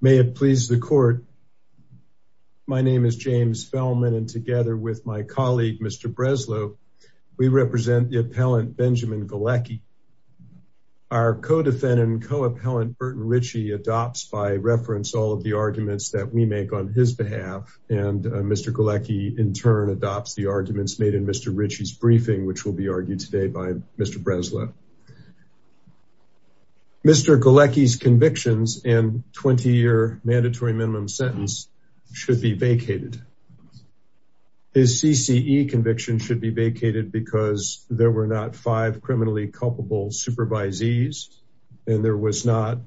May it please the court. My name is James Feldman and together with my colleague, Mr. Breslow, we represent the appellant Benjamin Galecki. Our co-defendant and co-appellant Burton Ritchie adopts by reference all of the arguments that we make on his behalf. And Mr. Galecki in turn adopts the arguments made in Mr. Ritchie's briefing, which will be argued today by Mr. Breslow. Mr. Galecki's convictions and 20 year mandatory minimum sentence should be vacated. His CCE conviction should be vacated because there were not five criminally culpable supervisees and there was not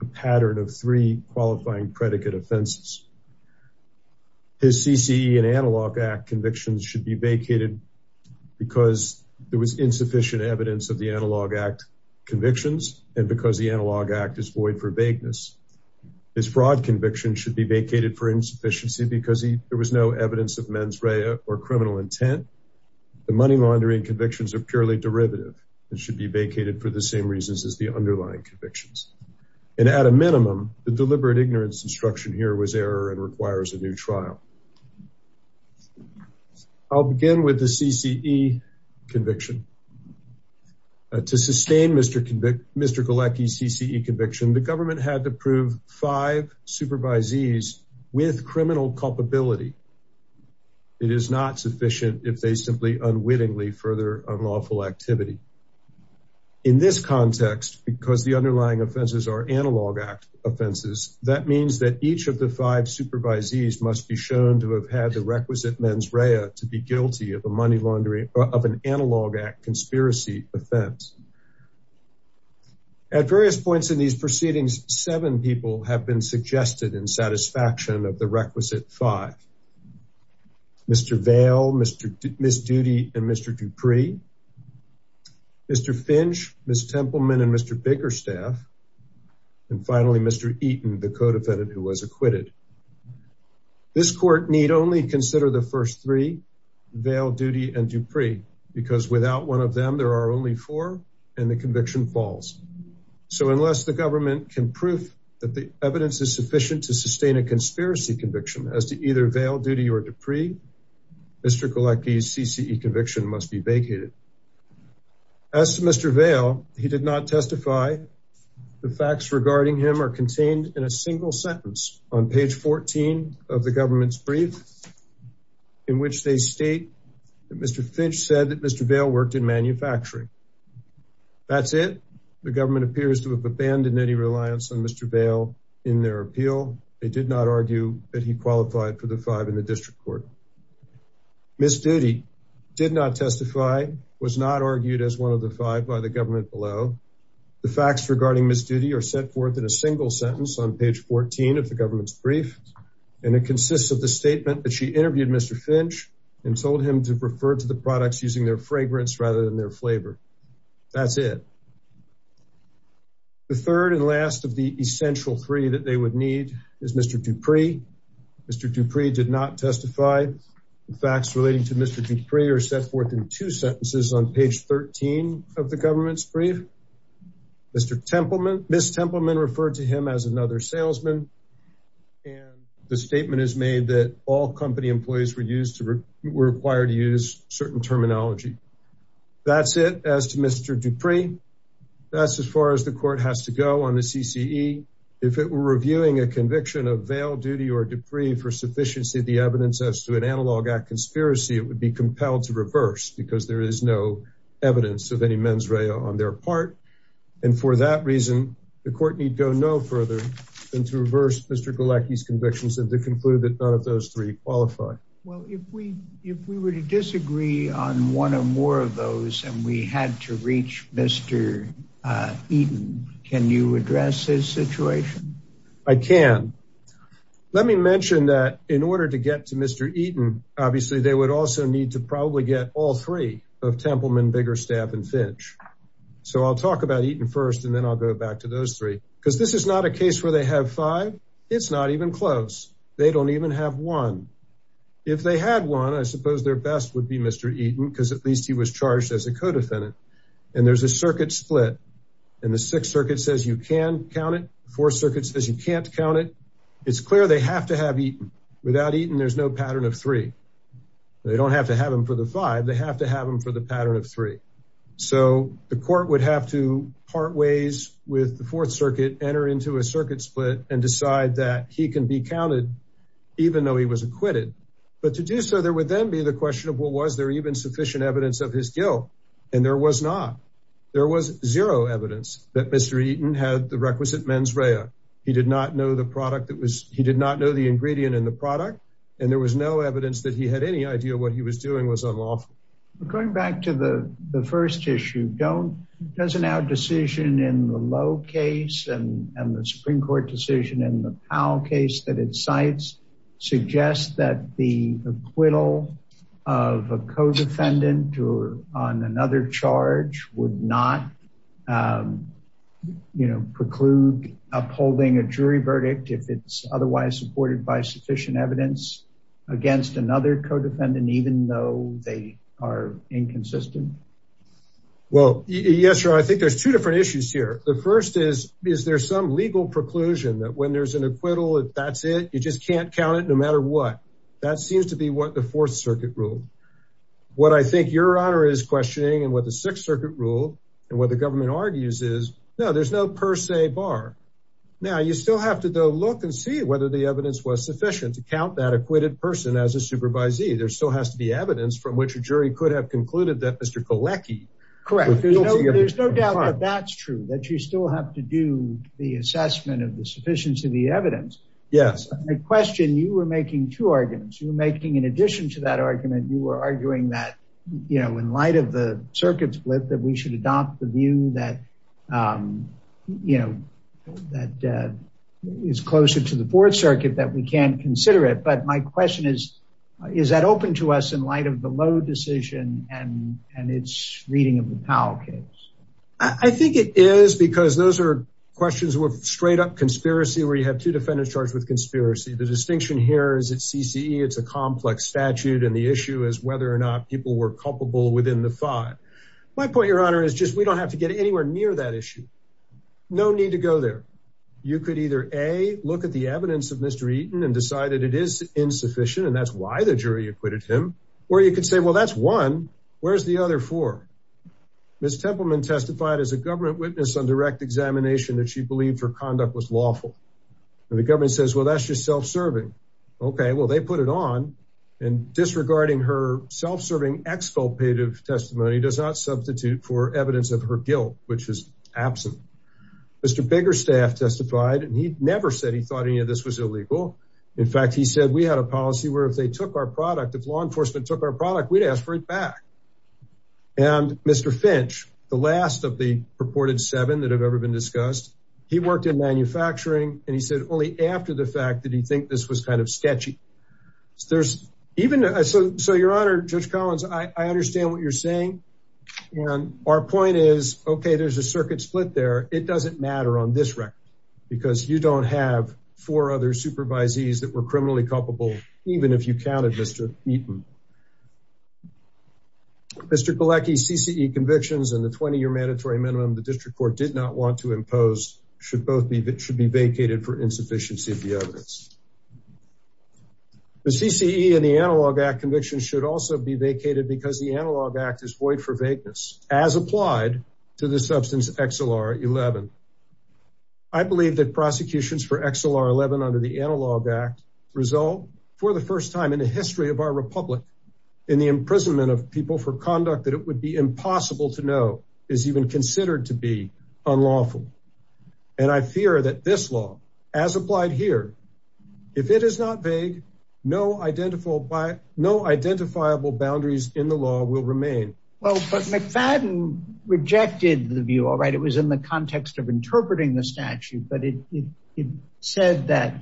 a pattern of three qualifying predicate offenses. His CCE and analog act convictions should be vacated because there was insufficient evidence of the analog act convictions. And because the analog act is void for vagueness. His fraud conviction should be vacated for insufficiency because there was no evidence of mens rea or criminal intent. The money laundering convictions are purely derivative and should be vacated for the same reasons as the underlying convictions. And at a minimum, the deliberate ignorance instruction here was error and requires a new trial. I'll begin with the CCE conviction to sustain Mr. Galecki's CCE conviction. The government had to prove five supervisees with criminal culpability. It is not sufficient if they simply unwittingly further unlawful activity in this context, because the underlying offenses are analog act offenses. That means that each of the five supervisees must be shown to have had the requisite mens rea to be guilty of a money laundering of an analog act conspiracy offense. At various points in these proceedings, seven people have been suggested in satisfaction of the requisite five. Mr. Vale, Mr. Miss Duty and Mr. Dupree, Mr. Finch, Ms. Templeman and Mr. Bakerstaff. And finally, Mr. Eaton, the co-defendant who was acquitted. This court need only consider the first three, Vale, Duty and Dupree, because without one of them, there are only four and the conviction falls. So unless the government can prove that the evidence is sufficient to sustain a conspiracy conviction as to either Vale, Duty or Dupree, Mr. Galecki's CCE conviction must be vacated. As to Mr. Vale, he did not testify. The facts regarding him are contained in a single sentence on page 14 of the government's brief in which they state that Mr. Finch said that Mr. Vale worked in manufacturing. That's it. The government appears to have abandoned any reliance on Mr. Vale in their appeal. They did not argue that he qualified for the five in the district court. Ms. Duty did not testify, was not argued as one of the five by the government below. The facts regarding Ms. Duty are set forth in a single sentence on page 14 of the government's brief. And it consists of the statement that she interviewed Mr. Finch and told him to refer to the products using their fragrance rather than their flavor. That's it. The third and last of the essential three that they would need is Mr. Dupree. Mr. Dupree did not testify. The facts relating to Mr. Dupree are set forth in two sentences on page 13 of the government's brief. Mr. Templeman, Ms. Templeman referred to him as another salesman. And the statement is made that all company employees were used to were required to use certain terminology. That's it as to Mr. Dupree. That's as far as the court has to go on the CCE. If it were reviewing a conviction of veil duty or debris for sufficiency of the evidence as to an analog act conspiracy, it would be compelled to reverse because there is no evidence of any mens rea on their part. And for that reason, the court need go no further than to reverse Mr. Galecki's convictions and to conclude that none of those three qualify. Well, if we if we were to disagree on one or more of them, we had to reach Mr. Eaton. Can you address this situation? I can. Let me mention that in order to get to Mr. Eaton, obviously, they would also need to probably get all three of Templeman, Biggerstaff and Finch. So I'll talk about Eaton first, and then I'll go back to those three, because this is not a case where they have five. It's not even close. They don't even have one. If they had one, I suppose their best would be Mr. Eaton, because at least he was charged as a co-defendant. And there's a circuit split. And the Sixth Circuit says you can count it. Fourth Circuit says you can't count it. It's clear they have to have Eaton. Without Eaton, there's no pattern of three. They don't have to have him for the five. They have to have him for the pattern of three. So the court would have to part ways with the Fourth Circuit, enter into a circuit split and decide that he can be counted even though he was acquitted. But to do so, there would then be the question of what was there even sufficient evidence of his guilt. And there was not. There was zero evidence that Mr. Eaton had the requisite mens rea. He did not know the ingredient in the product. And there was no evidence that he had any idea what he was doing was unlawful. Going back to the first issue, doesn't our decision in the Lowe case and the Supreme Court decision in the Powell case that cites suggest that the acquittal of a co-defendant or on another charge would not preclude upholding a jury verdict if it's otherwise supported by sufficient evidence against another co-defendant, even though they are inconsistent? Well, yes, sir. I think there's two different issues here. The first is, is there some legal preclusion that when there's an acquittal, that's it? You just can't count it no matter what. That seems to be what the Fourth Circuit rule. What I think your honor is questioning and what the Sixth Circuit rule and what the government argues is, no, there's no per se bar. Now, you still have to go look and see whether the evidence was sufficient to count that acquitted person as a supervisee. There still has to be evidence from which a jury could have concluded that Mr. Kolecki. Correct. There's no doubt that that's true, that you still have to do the assessment of the sufficiency of the evidence. Yes. My question, you were making two arguments. You were making in addition to that argument, you were arguing that, you know, in light of the circuit split, that we should adopt the view that, you know, that is closer to the Fourth Circuit, that we can consider it. But my question is, is that open to us in light of the Lowe decision and its reading of the Powell case? I think it is, because those are questions with straight up conspiracy, where you have two defendants charged with conspiracy. The distinction here is at CCE, it's a complex statute and the issue is whether or not people were culpable within the five. My point, your honor, is just we don't have to get anywhere near that issue. No need to go there. You could either A, look at the evidence of Mr. Eaton and decide that it is insufficient, and that's why the jury acquitted him. Or you could say, well, that's one. Where's the other four? Ms. Templeman testified as a government witness on direct examination that she believed her conduct was lawful. And the government says, well, that's just self-serving. Okay, well, they put it on. And disregarding her self-serving expulpative testimony does not substitute for evidence of her guilt, which is absent. Mr. Biggerstaff testified, and he never said he thought any of this was illegal. In fact, he said we had a policy where if they took our product, if law enforcement took our product, we'd ask for it back. And Mr. Finch, the last of the purported seven that have ever been discussed, he worked in manufacturing, and he said only after the fact did he think this was kind of sketchy. So your honor, Judge Collins, I understand what you're saying. And our point is, okay, there's a circuit split there. It doesn't matter on this because you don't have four other supervisees that were criminally culpable, even if you counted Mr. Eaton. Mr. Galecki, CCE convictions and the 20-year mandatory minimum the district court did not want to impose should be vacated for insufficiency of the evidence. The CCE and the Analog Act convictions should also be vacated because the Analog Act is void for vagueness, as applied to the substance XLR-11. I believe that prosecutions for XLR-11 under the Analog Act result, for the first time in the history of our republic, in the imprisonment of people for conduct that it would be impossible to know is even considered to be unlawful. And I fear that this law, as applied here, if it is not vague, no identifiable boundaries in the law will remain. Well, but McFadden rejected the view, all right. It was in the context of interpreting the statute, but it said that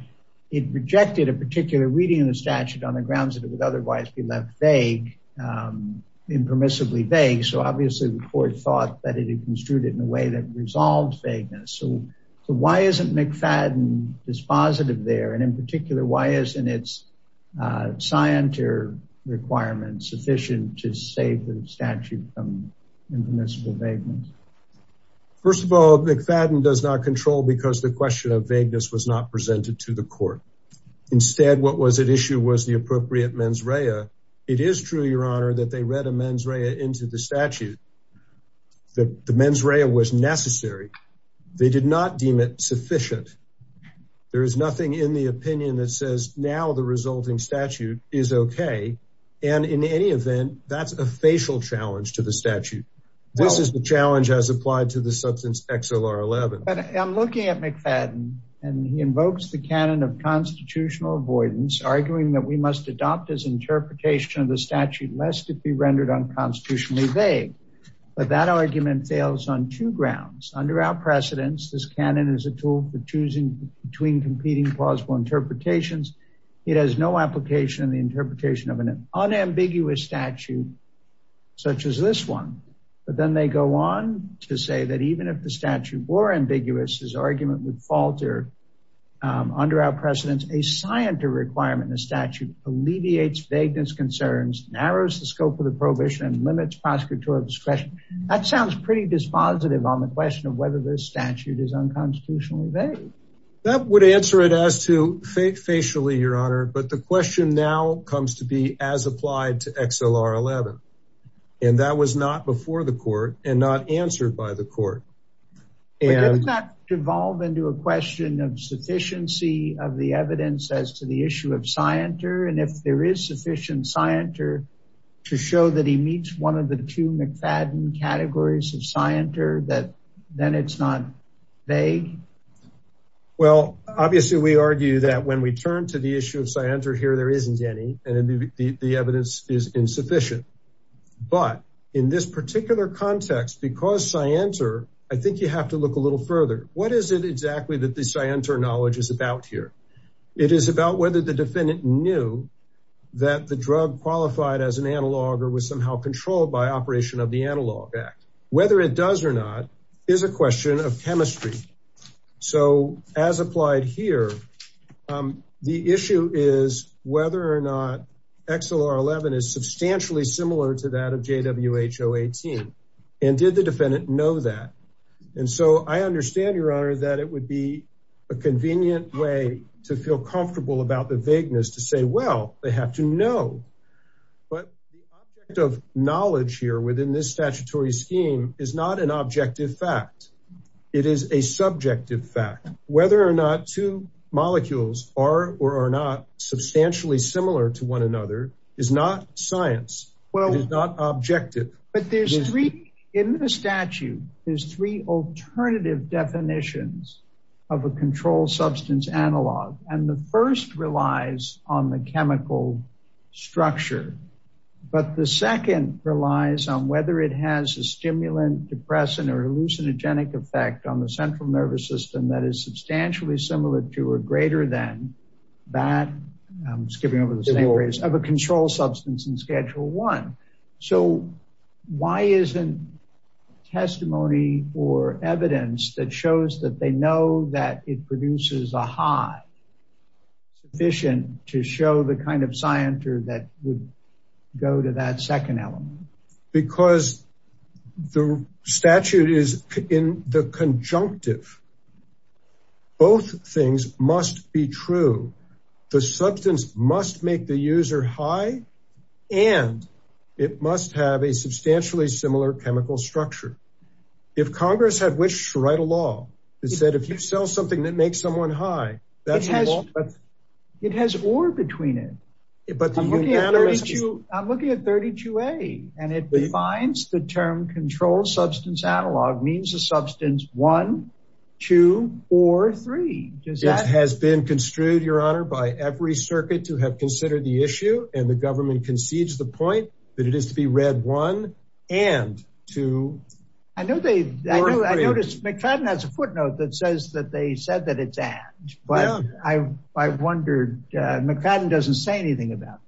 it rejected a particular reading of the statute on the grounds that it would otherwise be left vague, impermissibly vague. So obviously the court thought that it had construed it in a way that resolved vagueness. So why isn't McFadden dispositive there? And in particular, why isn't its scienter requirement sufficient to save the statute from impermissible vagueness? First of all, McFadden does not control because the question of vagueness was not presented to the court. Instead, what was at issue was the appropriate mens rea. It is true, your honor, that they read a mens rea into the statute. The mens rea was necessary. They did not deem it sufficient. There is nothing in the opinion that says now the resulting statute is okay. And in any event, that's a facial challenge to the statute. This is the challenge as applied to the substance XLR11. I'm looking at McFadden and he invokes the canon of constitutional avoidance, arguing that we must adopt his vague. But that argument fails on two grounds. Under our precedence, this canon is a tool for choosing between competing plausible interpretations. It has no application in the interpretation of an unambiguous statute such as this one. But then they go on to say that even if the statute were ambiguous, his argument would falter. Under our precedence, a scienter requirement in the statute alleviates vagueness concerns, narrows the scope of the prohibition, and limits prosecutorial discretion. That sounds pretty dispositive on the question of whether the statute is unconstitutionally vague. That would answer it as to facially, your honor. But the question now comes to be as applied to XLR11. And that was not before the court and not answered by the court. But didn't that devolve into a question of sufficiency of evidence as to the issue of scienter? And if there is sufficient scienter to show that he meets one of the two McFadden categories of scienter that then it's not vague? Well, obviously, we argue that when we turn to the issue of scienter here, there isn't any, and the evidence is insufficient. But in this particular context, because scienter, I think you have to look a little further. What is it exactly that the scienter knowledge is about here? It is about whether the defendant knew that the drug qualified as an analog or was somehow controlled by operation of the analog act, whether it does or not, is a question of chemistry. So as applied here, the issue is whether or not XLR11 is substantially similar to that of JWHO18. And did the defendant know that? And so I understand your honor, that it would be a convenient way to feel comfortable about the vagueness to say, well, they have to know. But the object of knowledge here within this statutory scheme is not an objective fact. It is a subjective fact, whether or not two molecules are or are not substantially similar to one another is not science. It is not objective. But in the statute, there's three alternative definitions of a controlled substance analog. And the first relies on the chemical structure. But the second relies on whether it has a stimulant, depressant, or hallucinogenic effect on the central nervous system that is substantially similar to or greater than that, I'm skipping over the same phrase, of a controlled substance in schedule one. So why isn't testimony or evidence that shows that they know that it produces a high sufficient to show the kind of scienter that would go to that second element? Because the statute is in the conjunctive. Both things must be true. The substance must make the user high. And it must have a substantially similar chemical structure. If Congress had wished to write a law that said if you sell something that makes someone high, that has, it has or between it. But I'm looking at 32. And it defines the term control substance analog means a substance one, two, or three does that has been construed, Your Honor, by every circuit to have considered the issue and the government concedes the point that it is to be read one and two. I know they noticed mcfadden has a footnote that says that they said that it's at I wondered, mcfadden doesn't say anything about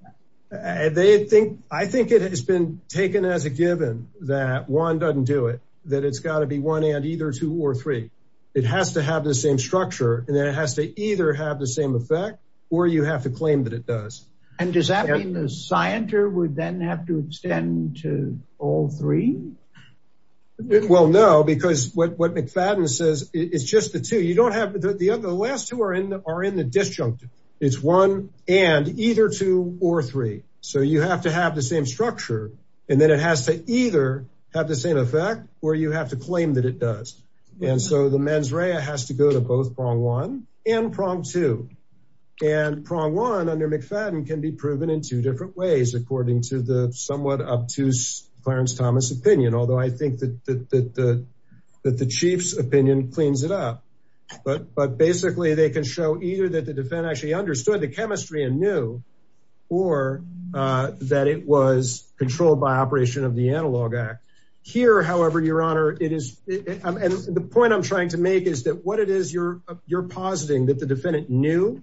that. They think I think it has been taken as a given that one doesn't do it, that it's got to be one and either two or three. It has to have the same structure. And then it has to either have the same effect, or you have to claim that it does. And does that mean the scienter would then have to extend to all three? Well, no, because what mcfadden says is just the two you don't have the last two are in are in the disjunctive. It's one and either two or three. So you have to have the same structure. And then it has to either have the same effect where you have to claim that it does. And so the mens rea has to go to both prong one and prong two. And prong one under mcfadden can be proven in two different ways according to the somewhat obtuse Clarence Thomas opinion, although I think that the that the chief's opinion cleans it up. But But basically, they can show either that the defendant actually understood the chemistry and knew or that it was controlled by operation of the analog act. Here, however, Your Honor, it is. And the point I'm trying to make is that what it is you're, you're positing that the defendant knew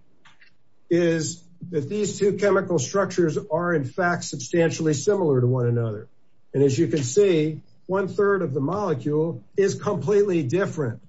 is that these two chemical structures are in fact, substantially similar to one another. And as you can see, one third of the molecule is completely different.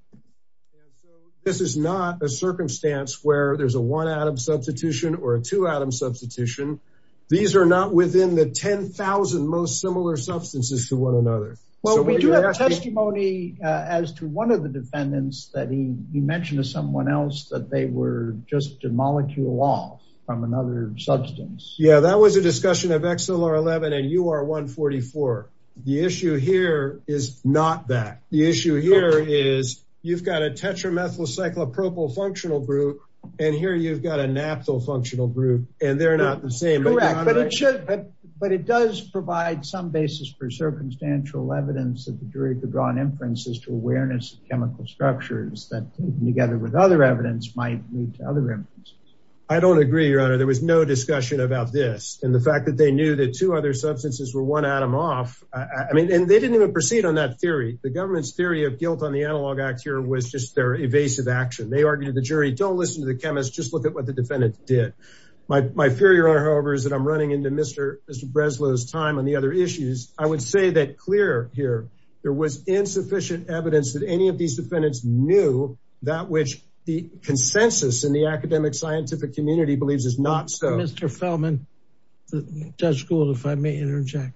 This is not a circumstance where there's a one atom substitution or a two atom substitution. These are not within the 10,000 most similar substances to one another. Well, we do have testimony as to one of the defendants that he mentioned to someone else that they were just a molecule off from another substance. Yeah, that was a discussion of XLR 11. And you are 144. The issue here is not that the issue here is, you've got a tetramethyl cyclopropyl functional group. And here you've got a naphthyl functional group, and they're not the same. But it should, but it does provide some basis for circumstantial evidence that the jury could draw on inferences to awareness of chemical structures that together with other evidence might lead to other reasons. I don't agree, Your Honor, there was no discussion about this. And the fact that they knew that two other substances were one atom off. I mean, and they didn't even proceed on that theory. The government's theory of guilt on the analog act here was just their evasive action. They argued the jury don't listen to the chemist, just look at what the defendant did. My fear, Your Honor, however, is that I'm running into Mr. Breslow's time on the other issues. I would say that clear here, there was insufficient evidence that any of these defendants knew that which the consensus in the academic scientific community believes is not so. Mr. Feldman, Judge Gould, if I may interject,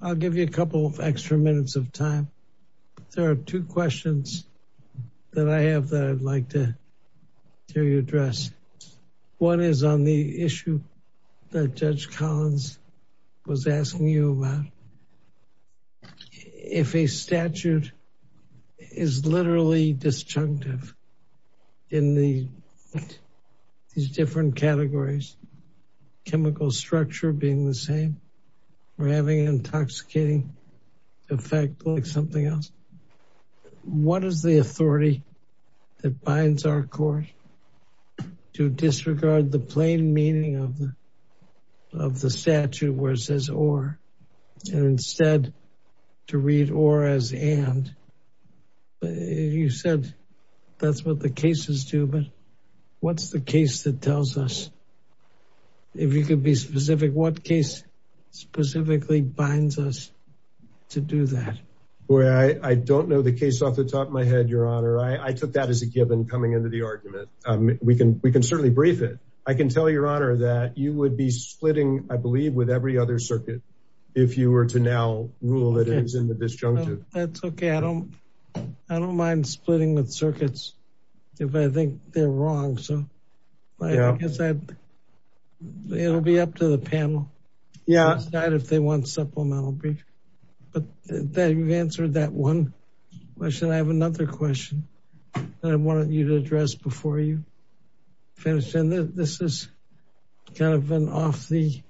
I'll give you a couple of extra minutes of time. There are two questions that I have that I'd like to hear you address. One is on the issue that Judge Collins was asking you about. If a statute is literally disjunctive in these different categories, chemical structure being the same, we're having an intoxicating effect like something else. What is the authority that binds our court to disregard the plain meaning of the statute where it says or, and instead to read or as and? But you said that's what the cases do, but what's the case that tells us? If you could be specific, what case specifically binds us to do that? I don't know the case off the top of my head, Your Honor. I took that as a given coming into the argument. We can certainly brief it. I can tell Your Honor that you would be splitting, I believe, with every other circuit if you were to now rule that it was in the disjunctive. That's okay. I don't mind splitting with circuits if I think they're wrong. So it'll be up to the panel if they want supplemental brief. But you've answered that one question. I have another question that I wanted you to address before you finish. And this is the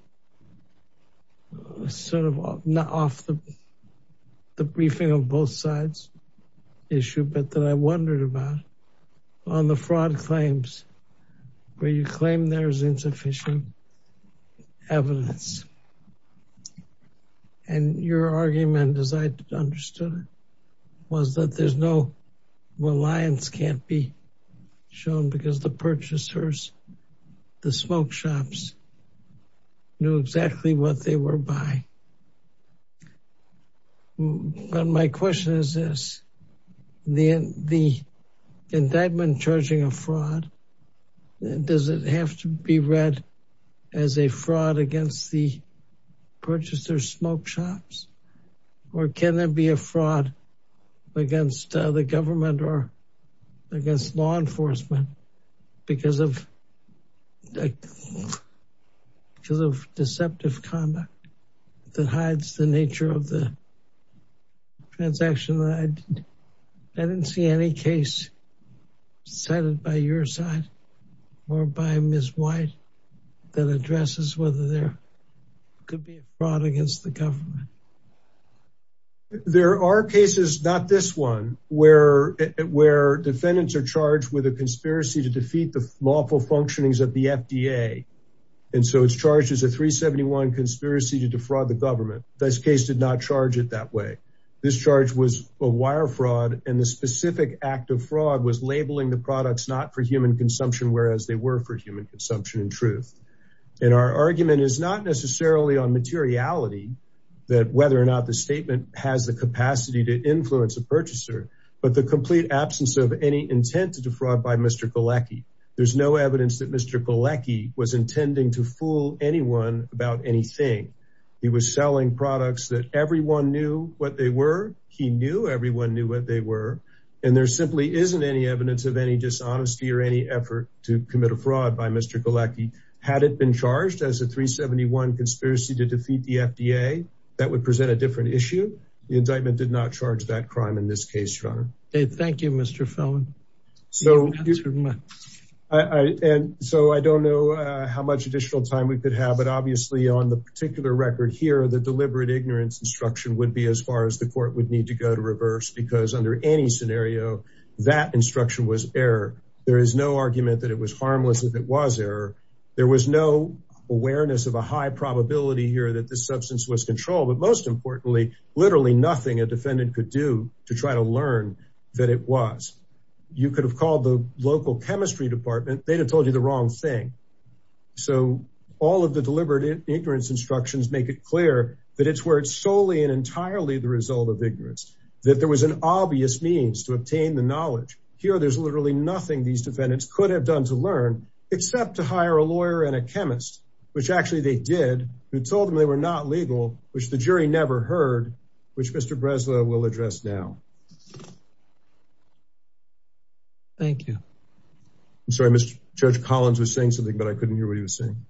sort of off the briefing of both sides issue, but that I wondered about on the fraud claims where you claim there's insufficient evidence. And your argument, as I understood it, was that there's no reliance can't be shown because the purchasers, the smoke shops knew exactly what they were buying. But my question is this, the indictment charging a fraud, does it have to be read as a fraud against the purchaser smoke shops? Or can there be a fraud against the government or against law enforcement because of deceptive conduct that hides the nature of the transaction? I didn't see any case cited by your side or by Ms. White that addresses whether there could be a fraud against the government. There are cases, not this one, where defendants are charged with a conspiracy to defeat the lawful functionings of the FDA. And so it's charged as a 371 conspiracy to defraud the government. This case did not charge it that way. This charge was a wire fraud. And the specific act of fraud was labeling the products not for human consumption, whereas they were for human whether or not the statement has the capacity to influence a purchaser, but the complete absence of any intent to defraud by Mr. Galecki. There's no evidence that Mr. Galecki was intending to fool anyone about anything. He was selling products that everyone knew what they were. He knew everyone knew what they were. And there simply isn't any evidence of any dishonesty or any effort to commit a fraud by Mr. Galecki. Had it been charged as a 371 conspiracy to defeat the law, it would present a different issue. The indictment did not charge that crime in this case, Your Honor. Thank you, Mr. Felman. So I don't know how much additional time we could have, but obviously on the particular record here, the deliberate ignorance instruction would be as far as the court would need to go to reverse, because under any scenario, that instruction was error. There is no argument that it was harmless if it was error. There was no awareness of a high probability here that the substance was controlled. But most importantly, literally nothing a defendant could do to try to learn that it was. You could have called the local chemistry department. They'd have told you the wrong thing. So all of the deliberate ignorance instructions make it clear that it's where it's solely and entirely the result of ignorance, that there was an obvious means to obtain the knowledge. Here, there's literally nothing these defendants could have done to learn except to hire a lawyer and a chemist, which actually they did, who told them they were not legal, which the jury never heard, which Mr. Breslau will address now. Thank you. I'm sorry, Mr. Judge, Collins was saying something, but I couldn't hear what he was saying.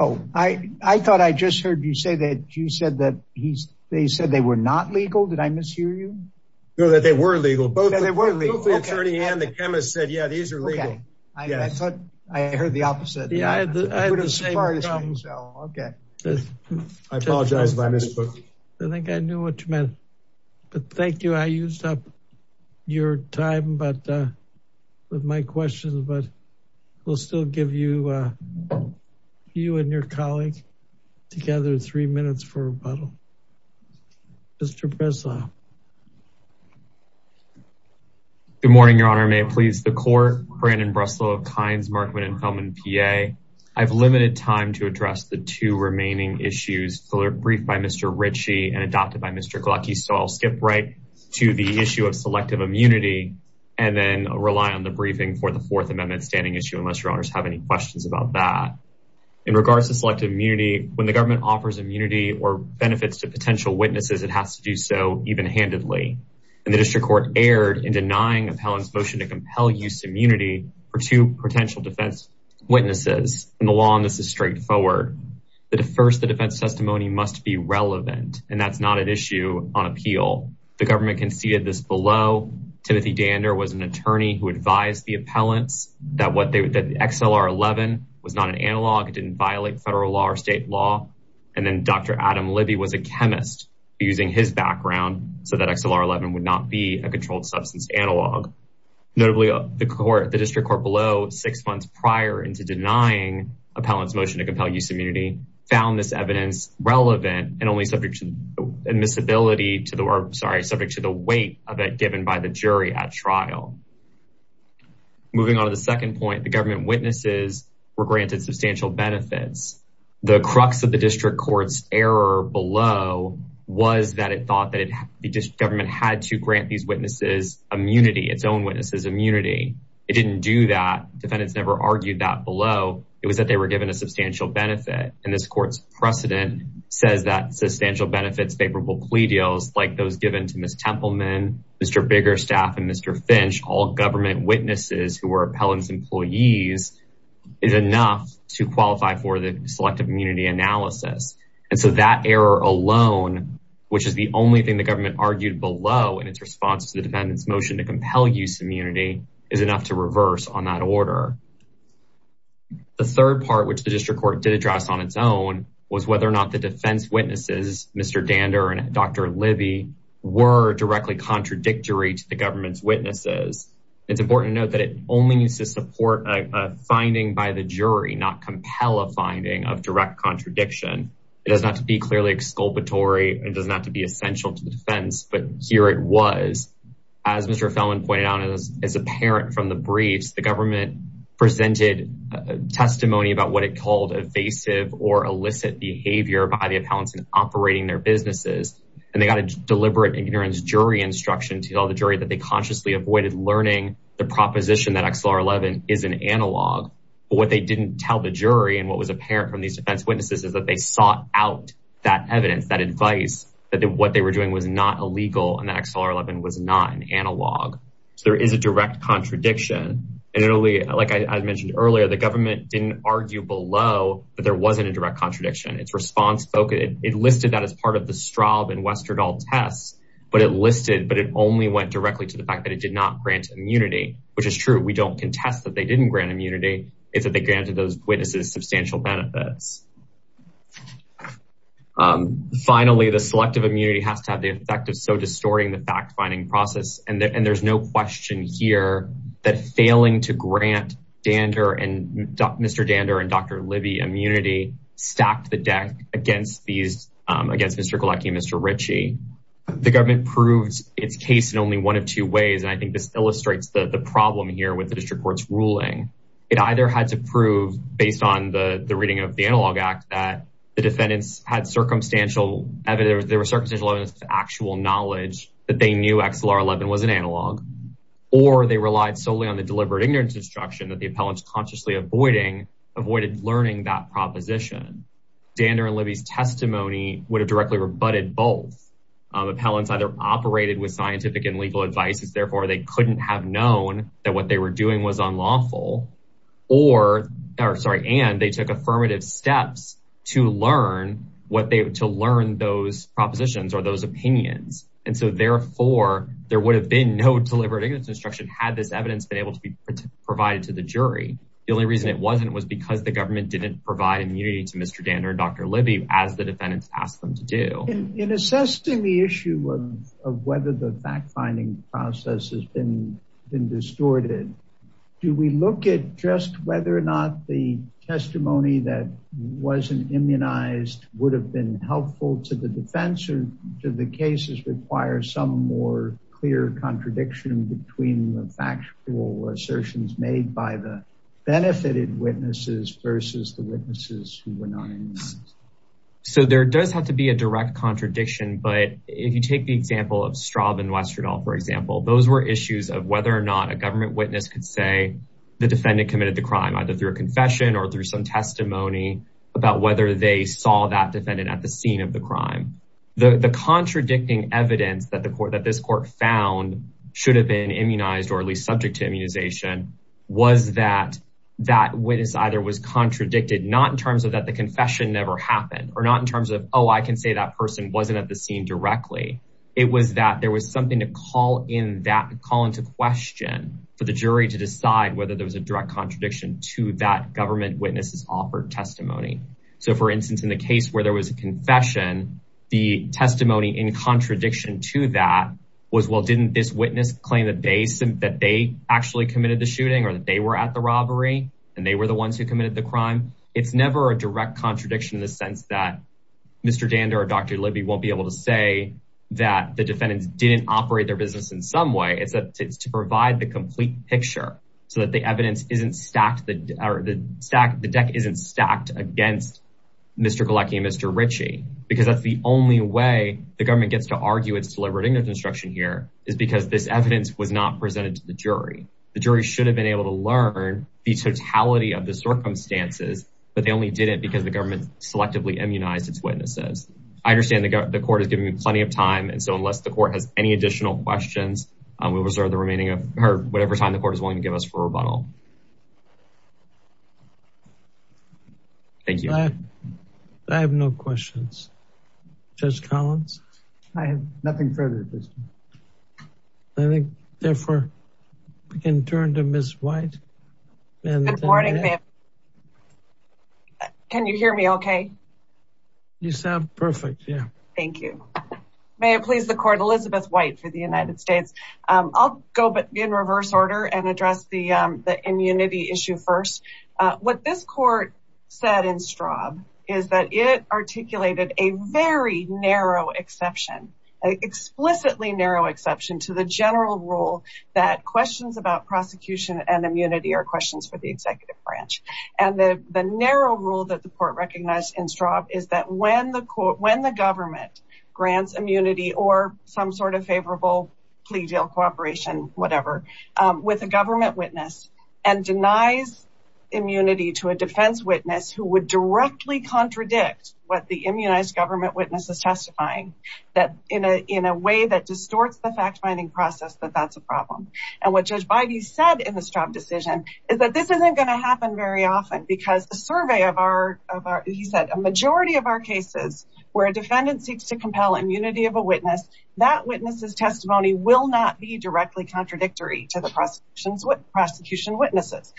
Oh, I thought I just heard you say that you said that they said they were not legal. Did I mishear you? No, that they were legal. Both the attorney and the chemist said, yeah, these are legal. I thought I heard the opposite. I apologize if I missed. I think I knew what you meant, but thank you. I used up your time with my questions, but we'll still give you and your colleague together three minutes for rebuttal. Mr. Breslau. Good morning, Your Honor. May it please the court. Brandon Breslau of Kynes Markman and Feldman PA. I've limited time to address the two remaining issues, briefed by Mr. Ritchie and adopted by Mr. Glucky. So I'll skip right to the issue of selective immunity and then rely on the briefing for the Fourth Amendment standing issue, unless Your Honors have any questions about that. In regards to selective immunity, when the government offers immunity or benefits to and the district court erred in denying appellant's motion to compel use immunity for two potential defense witnesses. And the law on this is straightforward. First, the defense testimony must be relevant, and that's not an issue on appeal. The government conceded this below. Timothy Dander was an attorney who advised the appellants that XLR-11 was not an analog. It didn't violate federal law or state law. And then Dr. Adam Libby was a chemist using his background so that XLR-11 would not be a controlled substance analog. Notably, the court, the district court below six months prior into denying appellant's motion to compel use immunity found this evidence relevant and only subject to admissibility to the, sorry, subject to the weight of it given by the jury at trial. Moving on to the second point, the government witnesses were granted substantial benefits. The crux of the district court's error below was that it thought that the government had to grant these witnesses immunity, its own witnesses immunity. It didn't do that. Defendants never argued that below. It was that they were given a substantial benefit. And this court's precedent says that substantial benefits favorable plea deals like those given to Ms. Templeman, Mr. Biggerstaff, and Mr. Finch, all government witnesses who were appellant's employees is enough to qualify for the selective immunity analysis. And so that error alone, which is the only thing the government argued below in its response to the defendant's motion to compel use immunity is enough to reverse on that order. The third part, which the district court did address on its own was whether or not the defense witnesses, Mr. Dander and Dr. Libby, were directly contradictory to the government's witnesses. It's important to note that it only needs to support a finding by the jury, not compel a finding of direct contradiction. It does not have to be clearly exculpatory. It does not have to be essential to the defense, but here it was. As Mr. Fellman pointed out, as apparent from the briefs, the government presented testimony about what it called evasive or illicit behavior by the appellants in operating their businesses. And they got a deliberate ignorance jury instruction to tell the jury that they consciously avoided learning the proposition that XLR11 is an analog. But what they didn't tell the jury and what was apparent from these defense witnesses is that they sought out that evidence, that advice, that what they were doing was not illegal and that XLR11 was not an analog. So there is a direct contradiction. And like I mentioned earlier, the government didn't argue below, but there wasn't a direct contradiction. Its response spoke, it listed that part of the Straub and Westerdahl tests, but it listed, but it only went directly to the fact that it did not grant immunity, which is true. We don't contest that they didn't grant immunity. It's that they granted those witnesses substantial benefits. Finally, the selective immunity has to have the effect of so distorting the fact-finding process. And there's no question here that failing to grant Mr. Dander and Dr. Libby immunity stacked the deck against these, against Mr. Galecki and Mr. Ritchie. The government proved its case in only one of two ways. And I think this illustrates the problem here with the district court's ruling. It either had to prove based on the reading of the analog act that the defendants had circumstantial evidence, there was circumstantial evidence to actual knowledge that they knew XLR11 was an analog, or they relied solely on the deliberate ignorance instruction that the Dander and Libby's testimony would have directly rebutted both. Appellants either operated with scientific and legal advices, therefore they couldn't have known that what they were doing was unlawful or, or sorry, and they took affirmative steps to learn what they, to learn those propositions or those opinions. And so therefore there would have been no deliberate ignorance instruction had this evidence been able to be provided to the jury. The only reason it wasn't was because the government didn't provide immunity to Mr. Dander and Dr. Libby as the defendants asked them to do. In assessing the issue of whether the fact-finding process has been been distorted, do we look at just whether or not the testimony that wasn't immunized would have been helpful to the defense or do the cases require some more clear contradiction between the factual assertions made by the benefited witnesses versus the witnesses who were not immunized? So there does have to be a direct contradiction, but if you take the example of Straub and Westerdahl, for example, those were issues of whether or not a government witness could say the defendant committed the crime, either through a confession or through some testimony about whether they saw that defendant at the scene of the crime. The contradicting evidence that this court found should have been immunized or at least subject to immunization was that that witness either was contradicted, not in terms of that the confession never happened, or not in terms of, oh, I can say that person wasn't at the scene directly. It was that there was something to call into question for the jury to decide whether there was a direct contradiction to that government witness's offered testimony. So for instance, in the case where there was a testimony in contradiction to that was, well, didn't this witness claim that they actually committed the shooting or that they were at the robbery and they were the ones who committed the crime? It's never a direct contradiction in the sense that Mr. Danda or Dr. Libby won't be able to say that the defendants didn't operate their business in some way. It's to provide the complete picture so that the evidence isn't stacked, the deck isn't stacked against Mr. Galecki and Mr. The government gets to argue it's deliberate ignorance instruction here is because this evidence was not presented to the jury. The jury should have been able to learn the totality of the circumstances, but they only did it because the government selectively immunized its witnesses. I understand the court has given me plenty of time. And so unless the court has any additional questions, we'll reserve the remaining of her, whatever time the court is willing to give us for rebuttal. Thank you. I have no questions. Judge Collins. I have nothing further. I think therefore we can turn to Ms. White. Good morning, ma'am. Can you hear me okay? You sound perfect. Yeah. Thank you. May it please the court, Elizabeth White for the United States. I'll go in reverse order and address the immunity issue first. What this court said in Straub is that it articulated a very narrow exception, explicitly narrow exception to the general rule that questions about prosecution and immunity are questions for the executive branch. And the narrow rule that the court recognized in Straub is that when the court, when the government grants immunity or some sort of favorable plea deal, cooperation, whatever with a government witness and denies immunity to a defense witness who would directly contradict what the immunized government witness is testifying that in a, in a way that distorts the fact finding process, that that's a problem. And what judge Biden said in the Straub decision is that this isn't going to happen very often because the survey of our, of our, he said a majority of our cases where a government seeks to compel immunity of a witness, that witness's testimony will not be directly contradictory to the prosecution's prosecution witnesses.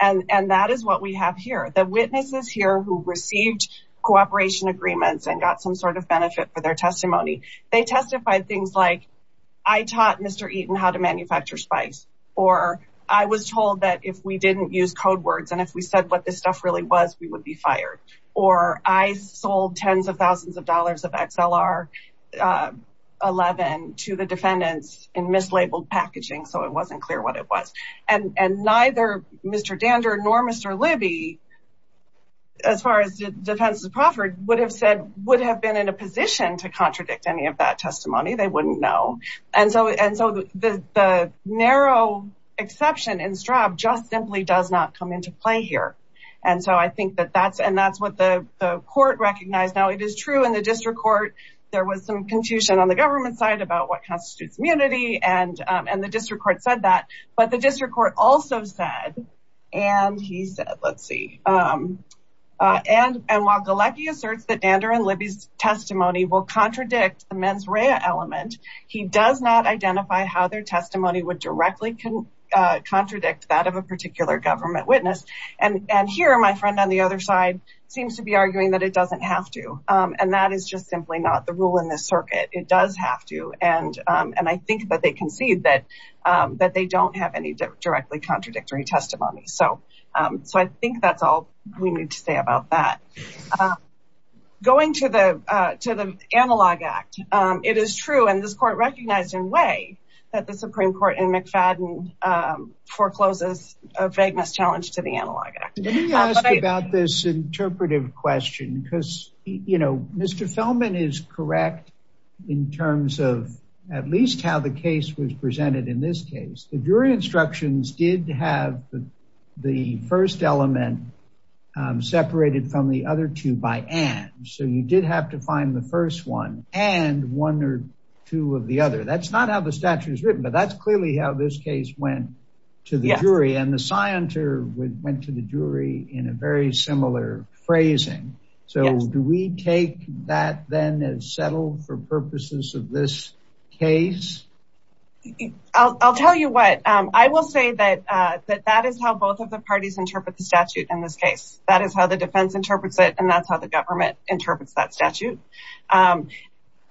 And, and that is what we have here. The witnesses here who received cooperation agreements and got some sort of benefit for their testimony, they testified things like I taught Mr. Eaton how to manufacture spice, or I was told that if we didn't use code words, and if we said what this stuff really was, we would be fired. Or I sold tens of thousands of dollars of XLR11 to the defendants in mislabeled packaging. So it wasn't clear what it was. And, and neither Mr. Dandor nor Mr. Libby, as far as defense of Crawford would have said, would have been in a position to contradict any of that testimony. They wouldn't know. And so, and so the, the narrow exception in Straub just simply does not come into play here. And so I think that that's, and that's what the court recognized. Now it is true in the district court, there was some confusion on the government side about what constitutes immunity and, and the district court said that, but the district court also said, and he said, let's see. And, and while Galecki asserts that Dandor and Libby's testimony will contradict the mens rea element, he does not identify how their testimony would directly contradict that of a particular government witness. And, and here, my friend on the other side seems to be arguing that it doesn't have to. And that is just simply not the rule in this circuit. It does have to. And, and I think that they concede that, that they don't have any directly contradictory testimony. So, so I think that's all we need to say about that. Going to the, to the analog act. It is true. And this court recognized in way that the Supreme Court and McFadden forecloses a vagueness challenge to the analog act. Let me ask about this interpretive question because, you know, Mr. Feldman is correct in terms of at least how the case was presented in this case. The jury instructions did have the first element separated from the other two by and. So you did have to find the first one and one or two of the other. That's not how the statute is written, but that's clearly how this case went to the jury and the scienter went to the jury in a very similar phrasing. So do we take that then as settled for purposes of this case? I'll tell you what, I will say that, that that is how both of the parties interpret the statute in this case. That is how the defense interprets it. And that's how the government interprets that statute.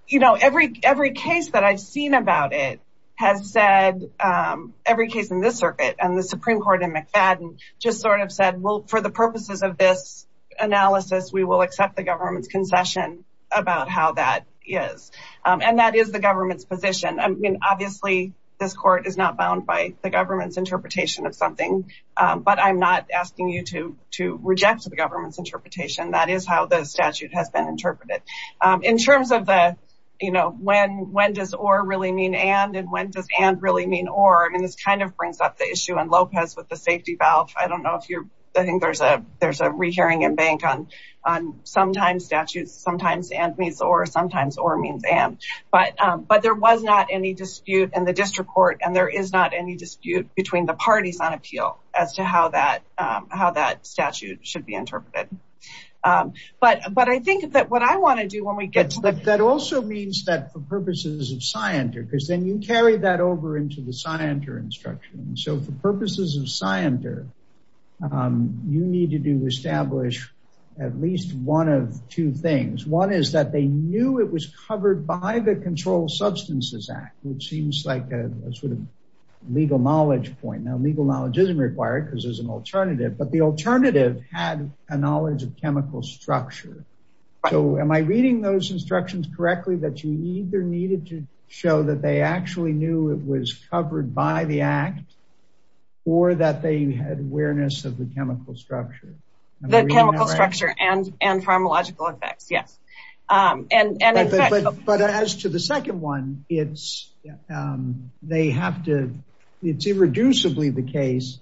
You know, every, every case that I've seen about it has said, every case in this circuit and the Supreme Court and McFadden just sort of said, well, for the purposes of this analysis, we will accept the government's concession about how that is. And that is the government's position. I mean, obviously this court is not bound by the government's interpretation of something, but I'm not asking you to, to reject the government's interpretation. That is how the statute has been interpreted. In terms of the, you know, when, when does or really mean and, and when does and really mean or, I mean, this kind of brings up the issue on Lopez with the safety valve. I don't know if you're, I think there's a, there's a rehearing and bank on, on sometimes statutes, sometimes and means or sometimes or means and, but but there was not any dispute in the district court and there is not any dispute between the parties on appeal as to how that how that statute should be interpreted. But, but I think that what I want to do when we get to that, that also means that for purposes of scienter, because then you carry that over into the scienter instruction. So for establish at least one of two things. One is that they knew it was covered by the control substances act, which seems like a sort of legal knowledge point. Now, legal knowledge isn't required because there's an alternative, but the alternative had a knowledge of chemical structure. So am I reading those instructions correctly that you either needed to show that they actually knew it was covered by the act or that they had awareness of the chemical structure. The chemical structure and, and pharmacological effects. Yes. And, and, but, but as to the second one, it's they have to, it's irreducibly the case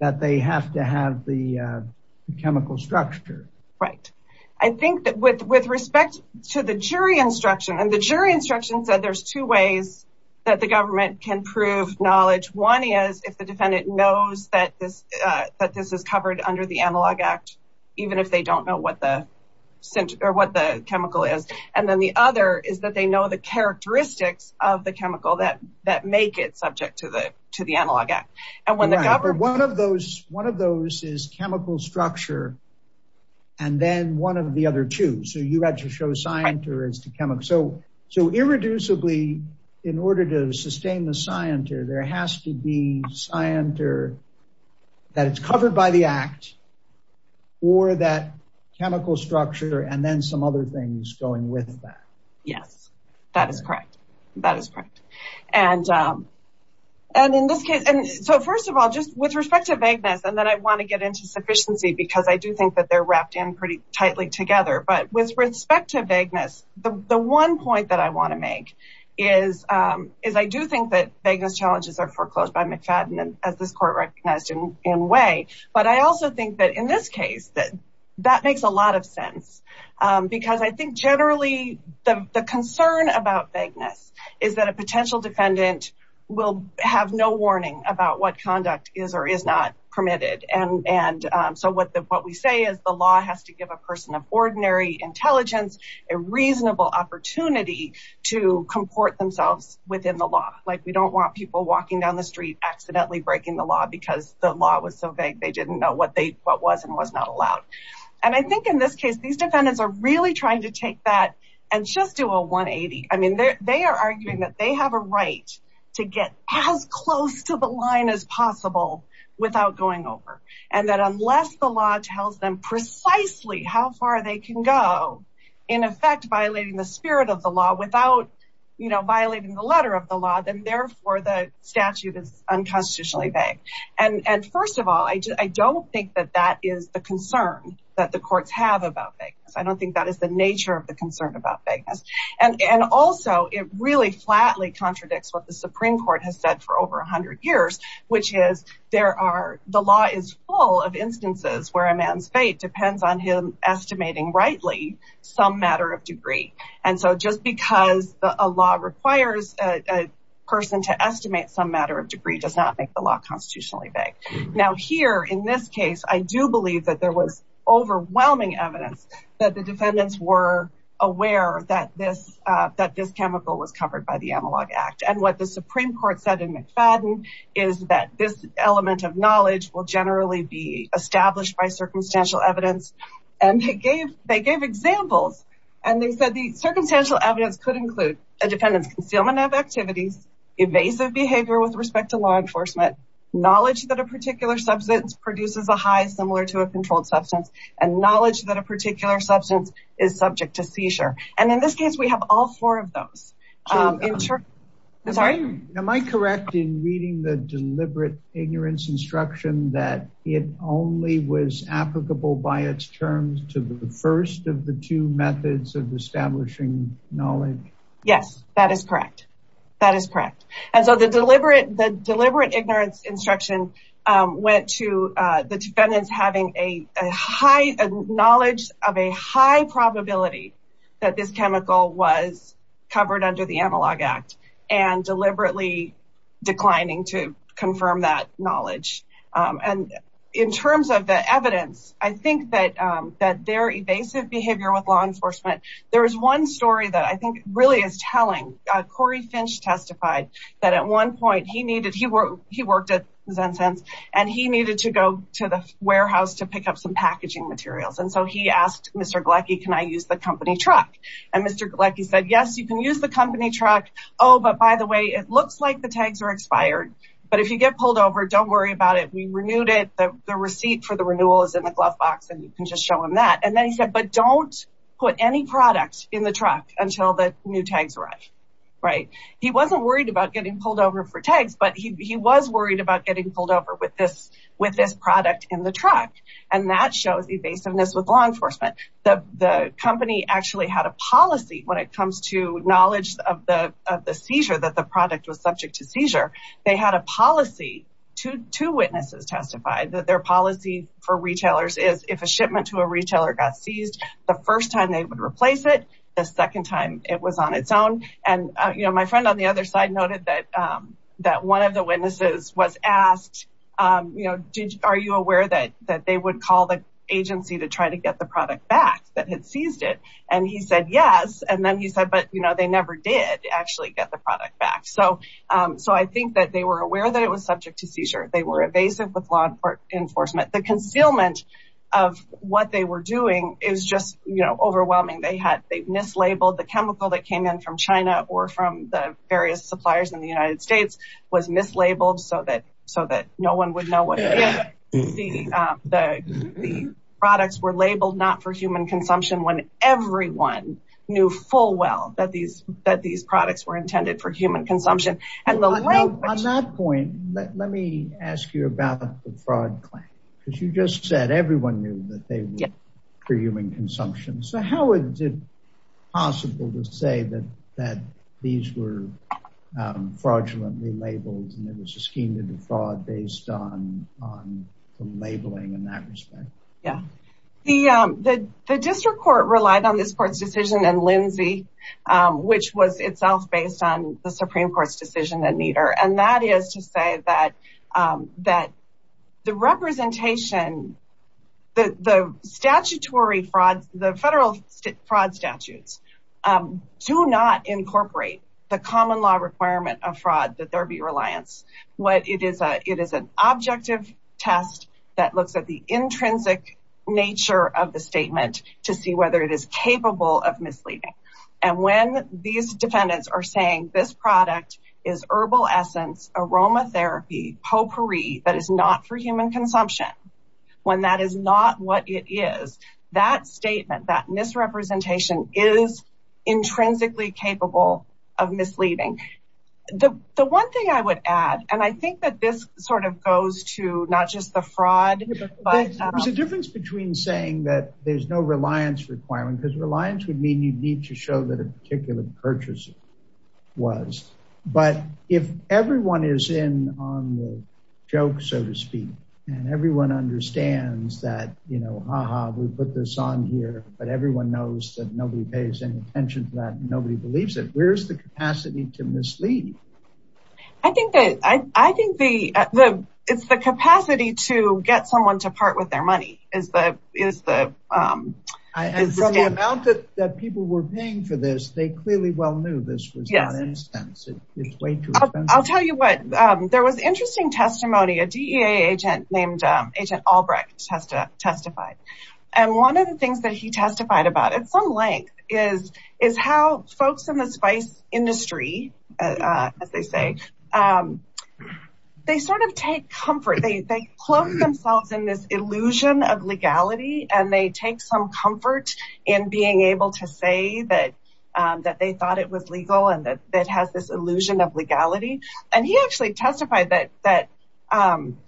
that they have to have the chemical structure. Right. I think that with, with respect to the jury instruction and the jury instruction said, there's two ways that the government can prove knowledge. One is if the defendant knows that that this is covered under the analog act, even if they don't know what the center or what the chemical is. And then the other is that they know the characteristics of the chemical that, that make it subject to the, to the analog act. And when the government, One of those, one of those is chemical structure and then one of the other two. So you had to show scienter as the chemical. So, so irreducibly in order to sustain the scienter, there has to be scienter that it's covered by the act or that chemical structure. And then some other things going with that. Yes, that is correct. That is correct. And, and in this case, and so first of all, just with respect to vagueness, and then I want to get into sufficiency because I do think that they're wrapped in pretty tightly together, but with respect to vagueness, the one point that I want to make is, is I do think that vagueness challenges are foreclosed by McFadden as this court recognized in way. But I also think that in this case, that that makes a lot of sense because I think generally the concern about vagueness is that a potential defendant will have no warning about what conduct is or is not permitted. And, and so what the, what we say is the law has to give a person of ordinary intelligence, a reasonable opportunity to comport themselves within the law. Like we don't want people walking down the street, accidentally breaking the law because the law was so vague. They didn't know what they, what was and was not allowed. And I think in this case, these defendants are really trying to take that and just do a 180. I mean, they're, they are arguing that they have a right to get as close to the line as possible without going over. And that unless the law tells them precisely how far they can go in effect, violating the spirit of the law without, you know, violating the letter of the law, then therefore the statute is unconstitutionally vague. And, and first of all, I just, I don't think that that is the concern that the courts have about vagueness. I don't think that is the nature of the concern about vagueness. And, and also it really flatly contradicts what the Supreme court has said for over a hundred years, which is there are, the law is full of instances where a man's fate depends on him estimating rightly some matter of degree. And so just because a law requires a person to estimate some matter of degree does not make the law constitutionally vague. Now here in this case, I do believe that there was overwhelming evidence that the defendants were aware that this, that this chemical was covered by the analog act. And what the Supreme court said in McFadden is that this element of knowledge will generally be established by circumstantial evidence. And they gave, they gave examples and they said the circumstantial evidence could include a defendant's concealment of activities, evasive behavior with respect to law enforcement, knowledge that a particular substance produces a high similar to a controlled substance and knowledge that a Am I correct in reading the deliberate ignorance instruction that it only was applicable by its terms to the first of the two methods of establishing knowledge? Yes, that is correct. That is correct. And so the deliberate, the deliberate ignorance instruction went to the under the analog act and deliberately declining to confirm that knowledge. And in terms of the evidence, I think that that they're evasive behavior with law enforcement. There is one story that I think really is telling Corey Finch testified that at one point he needed, he worked, he worked at Zen sense and he needed to go to the warehouse to pick up some packaging materials. And so he asked Mr. Glecky, can I use the company truck? And Mr. Glecky said, yes, you can use the company truck. Oh, but by the way, it looks like the tags are expired, but if you get pulled over, don't worry about it. We renewed it. The receipt for the renewal is in the glove box and you can just show him that. And then he said, but don't put any products in the truck until the new tags arrive. Right. He wasn't worried about getting pulled over for tags, but he was worried about getting pulled over with this product in the truck. And that shows evasiveness with law enforcement. The company actually had a policy when it comes to knowledge of the seizure, that the product was subject to seizure. They had a policy, two witnesses testified that their policy for retailers is if a shipment to a retailer got seized the first time they would replace it, the second time it was on its own. And my friend on the other side noted that one of the witnesses was asked, are you aware that they would call the agency to try to get the product back that had seized it? And he said, yes. And then he said, but they never did actually get the product back. So I think that they were aware that it was subject to seizure. They were evasive with law enforcement. The concealment of what they were doing is just overwhelming. They mislabeled the chemical that came in from China or from the various suppliers in the United States was mislabeled so that no one would know what the products were labeled not for human consumption when everyone knew full well that these products were intended for human consumption. On that point, let me ask you about the fraud claim, because you just said everyone knew that for human consumption. So how is it possible to say that these were fraudulently labeled and it was a scheme to defraud based on the labeling in that respect? Yeah. The district court relied on this court's decision and Lindsay, which was itself based on Supreme Court's decision, and that is to say that the federal fraud statutes do not incorporate the common law requirement of fraud that there be reliance. It is an objective test that looks at the intrinsic nature of the statement to see whether it is capable of misleading. And when these is herbal essence, aromatherapy, potpourri, that is not for human consumption, when that is not what it is, that statement, that misrepresentation is intrinsically capable of misleading. The one thing I would add, and I think that this sort of goes to not just the fraud. There's a difference between saying that there's no reliance requirement because reliance would need to show that a particular purchaser was. But if everyone is in on the joke, so to speak, and everyone understands that, you know, ha ha, we put this on here, but everyone knows that nobody pays any attention to that, nobody believes it, where's the capacity to mislead? I think that it's the capacity to get someone to part with their money is the And from the amount that people were paying for this, they clearly well knew this was not an expense. It's way too expensive. I'll tell you what, there was interesting testimony, a DEA agent named Agent Albrecht testified. And one of the things that he testified about at some length is, is how folks in the spice industry, as they say, um, they sort of take comfort, they clothe themselves in this illusion of legality, and they take some comfort in being able to say that, that they thought it was legal, and that has this illusion of legality. And he actually testified that, that,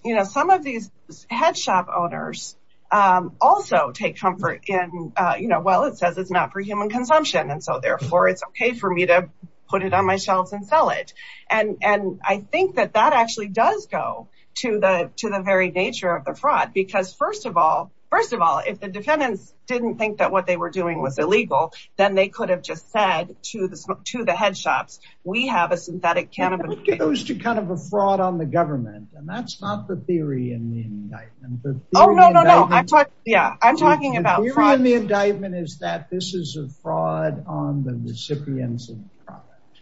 you know, some of these head shop owners also take comfort in, you know, well, it says it's not for human consumption. And therefore, it's okay for me to put it on my shelves and sell it. And, and I think that that actually does go to the to the very nature of the fraud. Because first of all, first of all, if the defendants didn't think that what they were doing was illegal, then they could have just said to the to the head shops, we have a synthetic cannabis, It goes to kind of a fraud on the government. And that's not the theory in the indictment. Oh, no, no, no, I thought, yeah, I'm talking about the indictment is that this is a fraud on the recipients of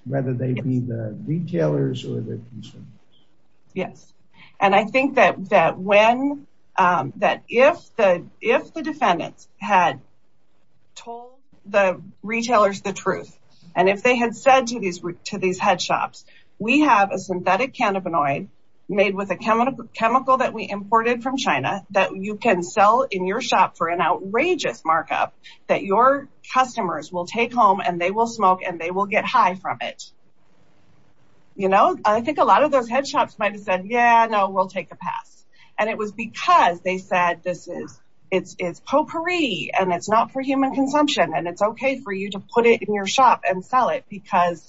whether they be the retailers or Yes. And I think that that when that if the if the defendants had told the retailers the truth, and if they had said to these to these head shops, we have a synthetic cannabinoid made with a that your customers will take home and they will smoke and they will get high from it. You know, I think a lot of those head shops might have said, Yeah, no, we'll take the pass. And it was because they said this is it's it's potpourri and it's not for human consumption. And it's okay for you to put it in your shop and sell it because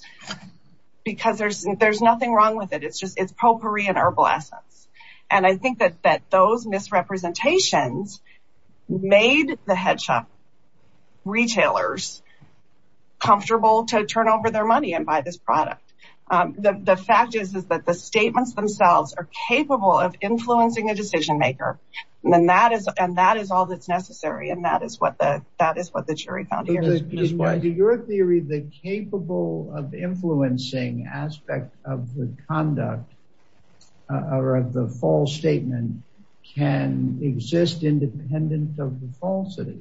because there's there's nothing wrong with it. It's just it's potpourri and herbal essence. And I think that that those misrepresentations made the head shop retailers comfortable to turn over their money and buy this product. The fact is, is that the statements themselves are capable of influencing a decision maker. And that is and that is all that's necessary. And that is what the that is what the jury found here is why do your theory the capable of influencing aspect of the conduct or the false statement can exist independent of the falsity?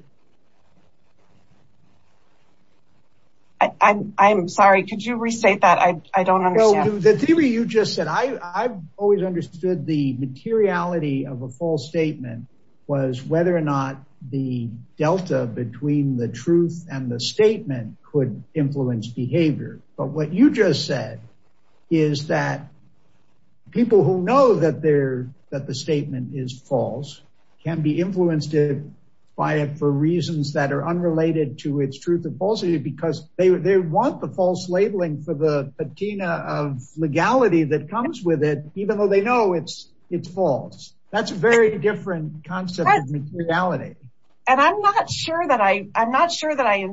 I'm sorry, could you restate that? I don't know. The theory you just said, I've always understood the materiality of a false statement was whether or not the delta between the truth and the statement could influence behavior. But what you just said, is that people who know that they're that the statement is false, can be influenced by it for reasons that are unrelated to its truth and falsity, because they want the false labeling for the patina of legality that comes with it, even though they know it's, it's false. That's a very different concept. And I'm not sure that I I'm not sure that I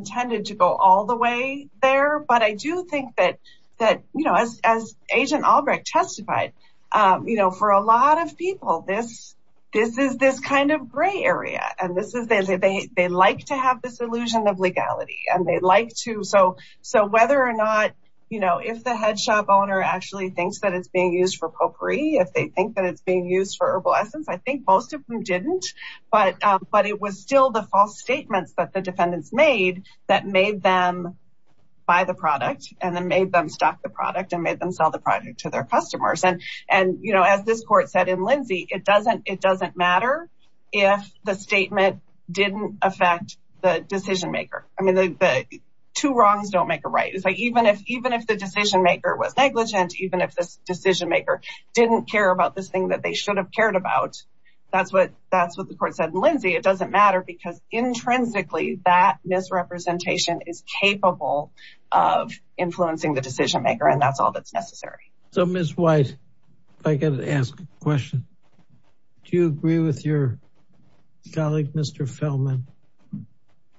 that, you know, as as agent Albrecht testified, you know, for a lot of people, this, this is this kind of gray area. And this is they, they like to have this illusion of legality, and they'd like to so so whether or not, you know, if the head shop owner actually thinks that it's being used for potpourri, if they think that it's being used for herbal essence, I think most of them didn't, but but it was still the false statements that the defendants made that made them buy the product and then made them stop the product and made them sell the product to their customers. And, and, you know, as this court said, in Lindsay, it doesn't it doesn't matter. If the statement didn't affect the decision maker, I mean, the two wrongs don't make a right. It's like, even if even if the decision maker was negligent, even if this decision maker didn't care about this thing that they should have cared about. That's what that's what the court said, Lindsay, it doesn't matter, because intrinsically, that misrepresentation is capable of influencing the decision maker. And that's all that's necessary. So Miss White, I got to ask a question. Do you agree with your colleague, Mr. Feldman,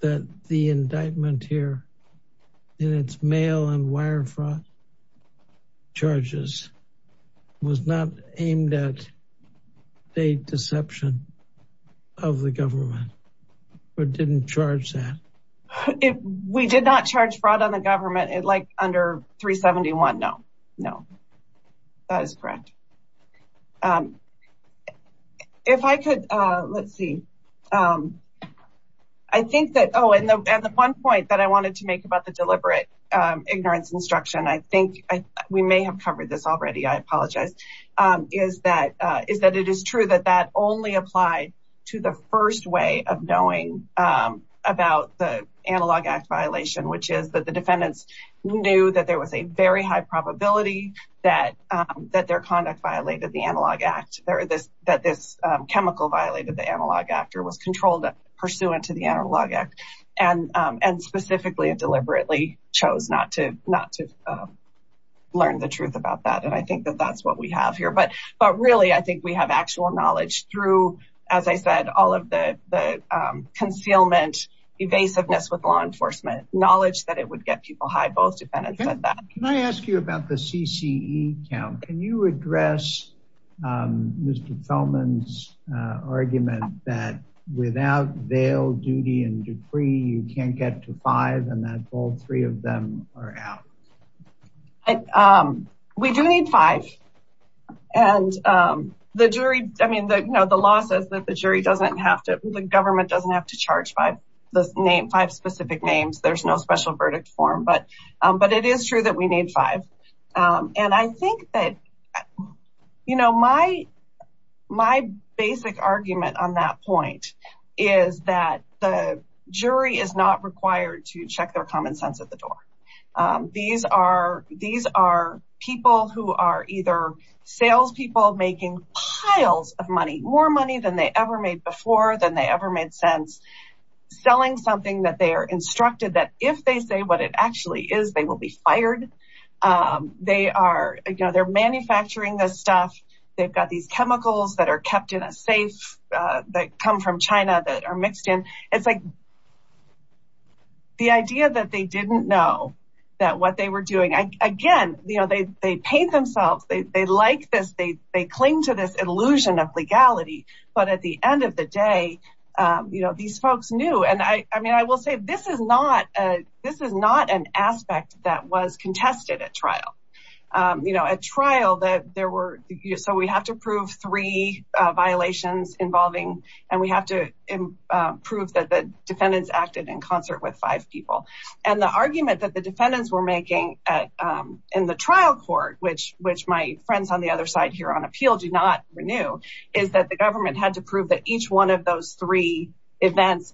that the indictment here in its mail and wire fraud charges was not aimed at the deception of the government? Or didn't charge that? If we did not charge fraud on the government, it like under 371? No, no. That is correct. If I could, let's see. I think that Oh, and the one point that I wanted to make about the we may have covered this already, I apologize, is that is that it is true that that only applied to the first way of knowing about the analog act violation, which is that the defendants knew that there was a very high probability that that their conduct violated the analog act, there are this that this chemical violated the analog actor was controlled pursuant to the learn the truth about that. And I think that that's what we have here. But But really, I think we have actual knowledge through, as I said, all of the concealment, evasiveness with law enforcement knowledge that it would get people high both defendants that can I ask you about the CCE count? Can you address Mr. Feldman's argument that without bail, duty and decree, you can't get to five and that all three of them are out? We do need five. And the jury, I mean, the you know, the law says that the jury doesn't have to the government doesn't have to charge by the name five specific names. There's no special verdict form. But But it is true that we need five. And I think that, you know, my, my basic argument on that point is that the jury is not required to check their common sense at the door. These are these are people who are either salespeople making piles of money more money than they ever made before than they ever made sense. selling something that they are instructed that if they say what it actually is, they will be fired. They are, you know, they're manufacturing this stuff. They've got these chemicals that are kept in a safe that come from China that are mixed in. It's like the idea that they didn't know that what they were doing, again, you know, they they paint themselves, they like this, they, they cling to this illusion of legality. But at the end of the day, you know, these folks knew and I mean, I will say this is not a this is so we have to prove three violations involving and we have to prove that the defendants acted in concert with five people. And the argument that the defendants were making in the trial court, which which my friends on the other side here on appeal do not renew, is that the government had to prove that each one of those three events,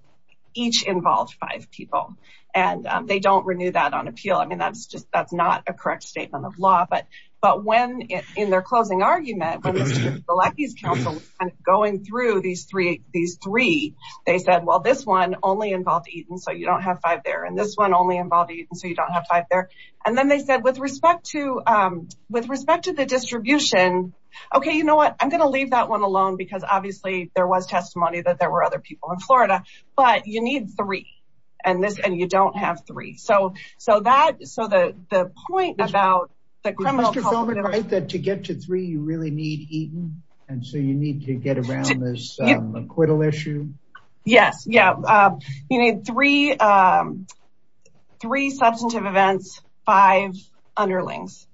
each involved five people, and they don't renew that on appeal. I mean, that's just that's not a correct statement of law. But But when in their closing argument, the lackeys Council, going through these three, these three, they said, well, this one only involved eaten, so you don't have five there. And this one only involved eating, so you don't have five there. And then they said, with respect to with respect to the distribution, okay, you know what, I'm gonna leave that one alone, because obviously, there was testimony that there were other people in Florida, but you need three, and this and you don't have three. So that so the point about that, to get to three, you really need eaten. And so you need to get around this acquittal issue. Yes, yeah. You need three, three substantive events, five underlings.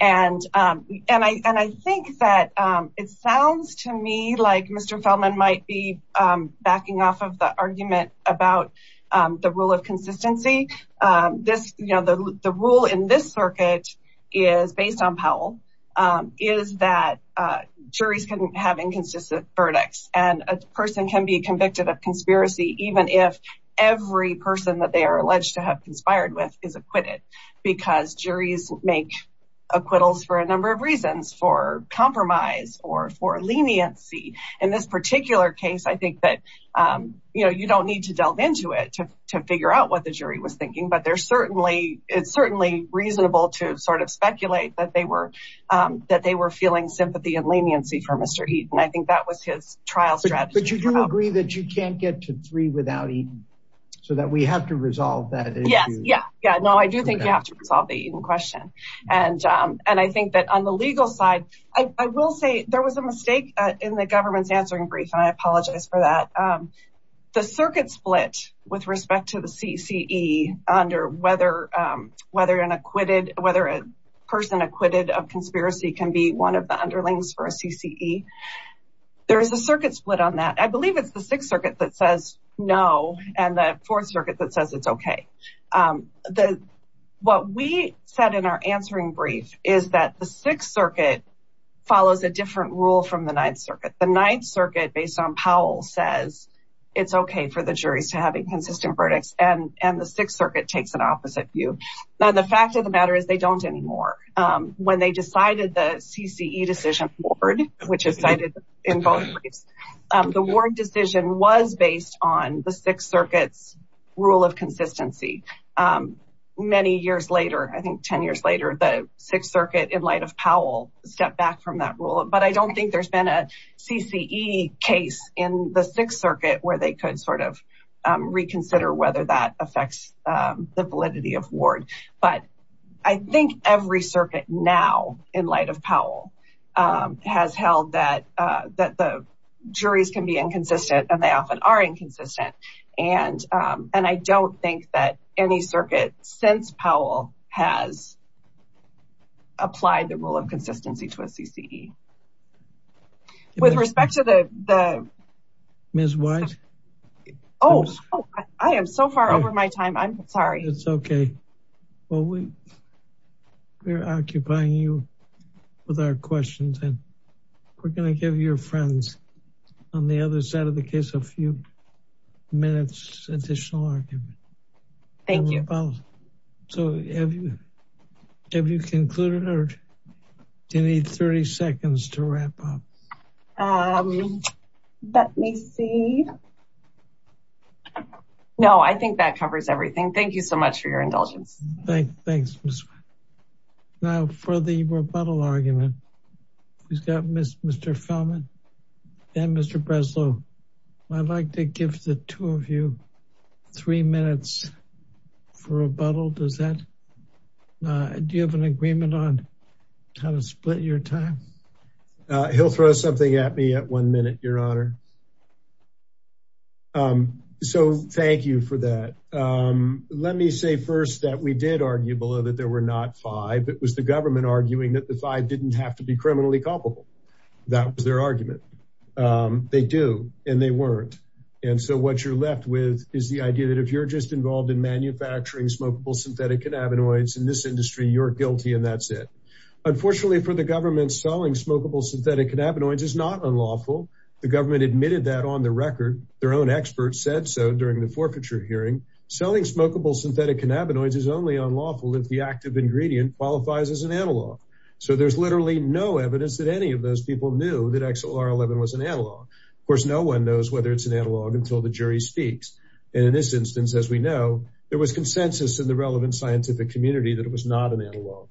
And, and I and I think that it sounds to me like Mr. Feldman might be backing off of the argument about the rule of consistency. This, you know, the rule in this circuit is based on Powell, is that juries can have inconsistent verdicts, and a person can be convicted of conspiracy, even if every person that they are alleged to have conspired with is acquitted, because juries make acquittals for a number of reasons for compromise or for leniency. In this particular case, I think that, you know, you don't need to delve into it to figure out what the jury was thinking. But there's certainly it's certainly reasonable to sort of speculate that they were that they were feeling sympathy and leniency for Mr. Eaton. I think that was his trial strategy. But you do agree that you can't get to three without eating, so that we have to resolve that. Yes, yeah, yeah. No, I do think you have to resolve the question. And, and I think that on the legal side, I will say there was a mistake in the government's answering brief, and I apologize for that. The circuit split with respect to the CCE under whether whether an acquitted whether a person acquitted of conspiracy can be one of the underlings for a CCE. There's a circuit split on that. I believe it's the Sixth Circuit that says no, and the Fourth Circuit that says it's okay. The what we said in our answering brief is that the Sixth Circuit follows a different rule from the Ninth Circuit. The Ninth Circuit based on Powell says it's okay for the juries to have inconsistent verdicts and and the Sixth Circuit takes an opposite view. Now the fact of the matter is they don't anymore. When they decided the CCE decision forward, which is cited in both briefs, the ward decision was based on the Sixth Circuit's rule of consistency. Many years later, I think 10 years later, the Sixth Circuit in light of Powell stepped back from that rule. But I don't think there's been a CCE case in the Sixth Circuit where they could sort of reconsider whether that affects the validity of ward. But I think every Powell has held that that the juries can be inconsistent and they often are inconsistent. And I don't think that any circuit since Powell has applied the rule of consistency to a CCE. With respect to the... Ms. White? Oh, I am so far over my time. I'm sorry. It's okay. Well, we're occupying you with our questions and we're going to give your friends on the other side of the case a few minutes additional argument. Thank you. So have you have you concluded or do you need 30 seconds to wrap up? Let me see. No, I think that covers everything. Thank you so much for your indulgence. Thanks. Now for the rebuttal argument, we've got Mr. Feldman and Mr. Breslow. I'd like to give the two of you three minutes for rebuttal. Does that... Do you have an agreement on how to split your time? He'll throw something at me at one minute, Your Honor. So thank you for that. Let me say first that we did argue below that there were not five. It was the government arguing that the five didn't have to be criminally culpable. That was their argument. They do and they weren't. And so what you're left with is the idea that if you're just involved in manufacturing smokable synthetic cannabinoids in this industry, you're guilty and that's it. Unfortunately, for the government selling smokable synthetic cannabinoids is not unlawful. The government admitted that on the record. Their own experts said so during the forfeiture hearing. Selling smokable synthetic cannabinoids is only unlawful if the active ingredient qualifies as an analog. So there's literally no evidence that any of those people knew that XLR11 was an analog. Of course, no one knows whether it's an analog until the jury speaks. And in this instance, as we know, there was consensus in the relevant scientific community that it was not an analog.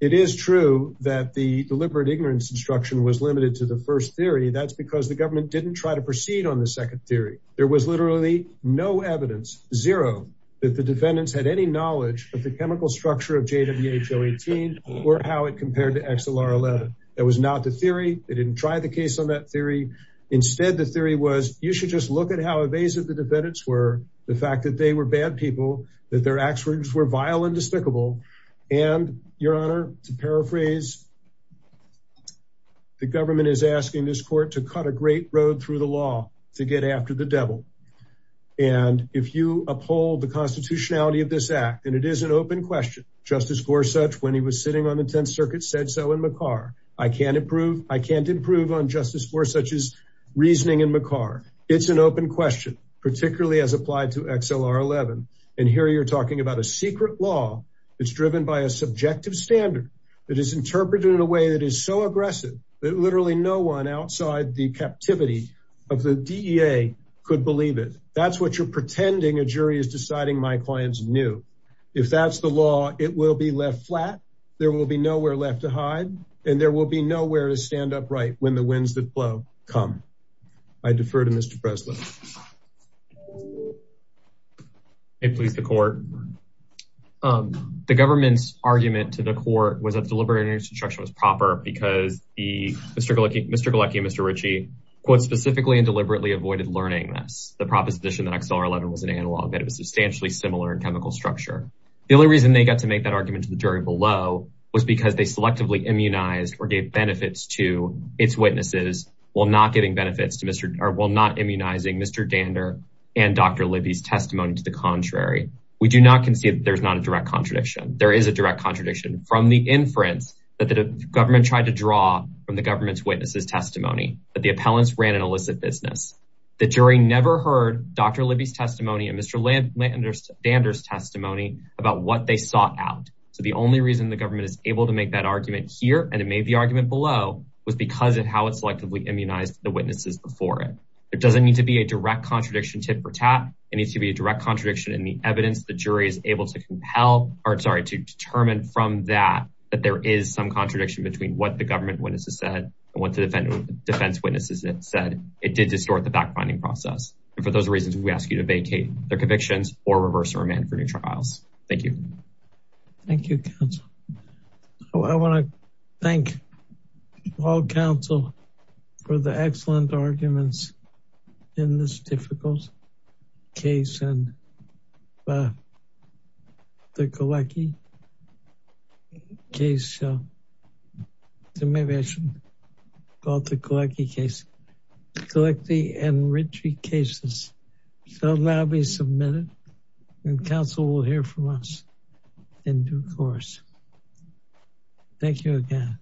It is true that the deliberate ignorance instruction was limited to the first theory. That's because the government didn't try to proceed on the second theory. There was literally no evidence, zero, that the defendants had any knowledge of the chemical structure of JWHO18 or how it compared to XLR11. That was not the theory. They didn't try the case on that theory. Instead, the theory was you should just look at how evasive the defendants were, the fact that they were bad people, that their actions were vile and despicable, and, your honor, to paraphrase, the government is asking this court to cut a great road through the law to get after the devil. And if you uphold the constitutionality of this act, and it is an open question, Justice Gorsuch, when he was sitting on the Tenth Circuit, said so in McCarr. I can't improve on Justice Gorsuch's reasoning in McCarr. It's an open question, particularly as applied to by a subjective standard that is interpreted in a way that is so aggressive that literally no one outside the captivity of the DEA could believe it. That's what you're pretending a jury is deciding my client's new. If that's the law, it will be left flat. There will be nowhere left to hide, and there will be nowhere to stand upright when the winds that blow come. I defer to Mr. Breslin. May it please the court. The government's argument to the court was that the deliberative instruction was proper because Mr. Galecki and Mr. Ritchie, quote, specifically and deliberately avoided learning this. The proposition that XLR11 was an analog, that it was substantially similar in chemical structure. The only reason they got to make that argument to the jury below was because they selectively immunized or gave benefits to its witnesses while not giving Mr. Dander and Dr. Libby's testimony to the contrary. We do not concede that there's not a direct contradiction. There is a direct contradiction from the inference that the government tried to draw from the government's witnesses' testimony, that the appellants ran an illicit business. The jury never heard Dr. Libby's testimony and Mr. Dander's testimony about what they sought out. So the only reason the government is able to make that argument here, and it made the argument below, was because of how it selectively immunized the witnesses before it. It doesn't need to be a direct contradiction tit for tat. It needs to be a direct contradiction in the evidence the jury is able to compel, or sorry, to determine from that that there is some contradiction between what the government witnesses said and what the defense witnesses said. It did distort the backfinding process. And for those reasons, we ask you to vacate their convictions or reverse or amend for new trials. Thank you. Thank you, counsel. I want to thank all counsel for the excellent arguments in this difficult case and the Galecki case. So maybe I should call it the Galecki case. Galecki and Ritchie cases shall now be submitted and counsel will hear from us in due course. Thank you again.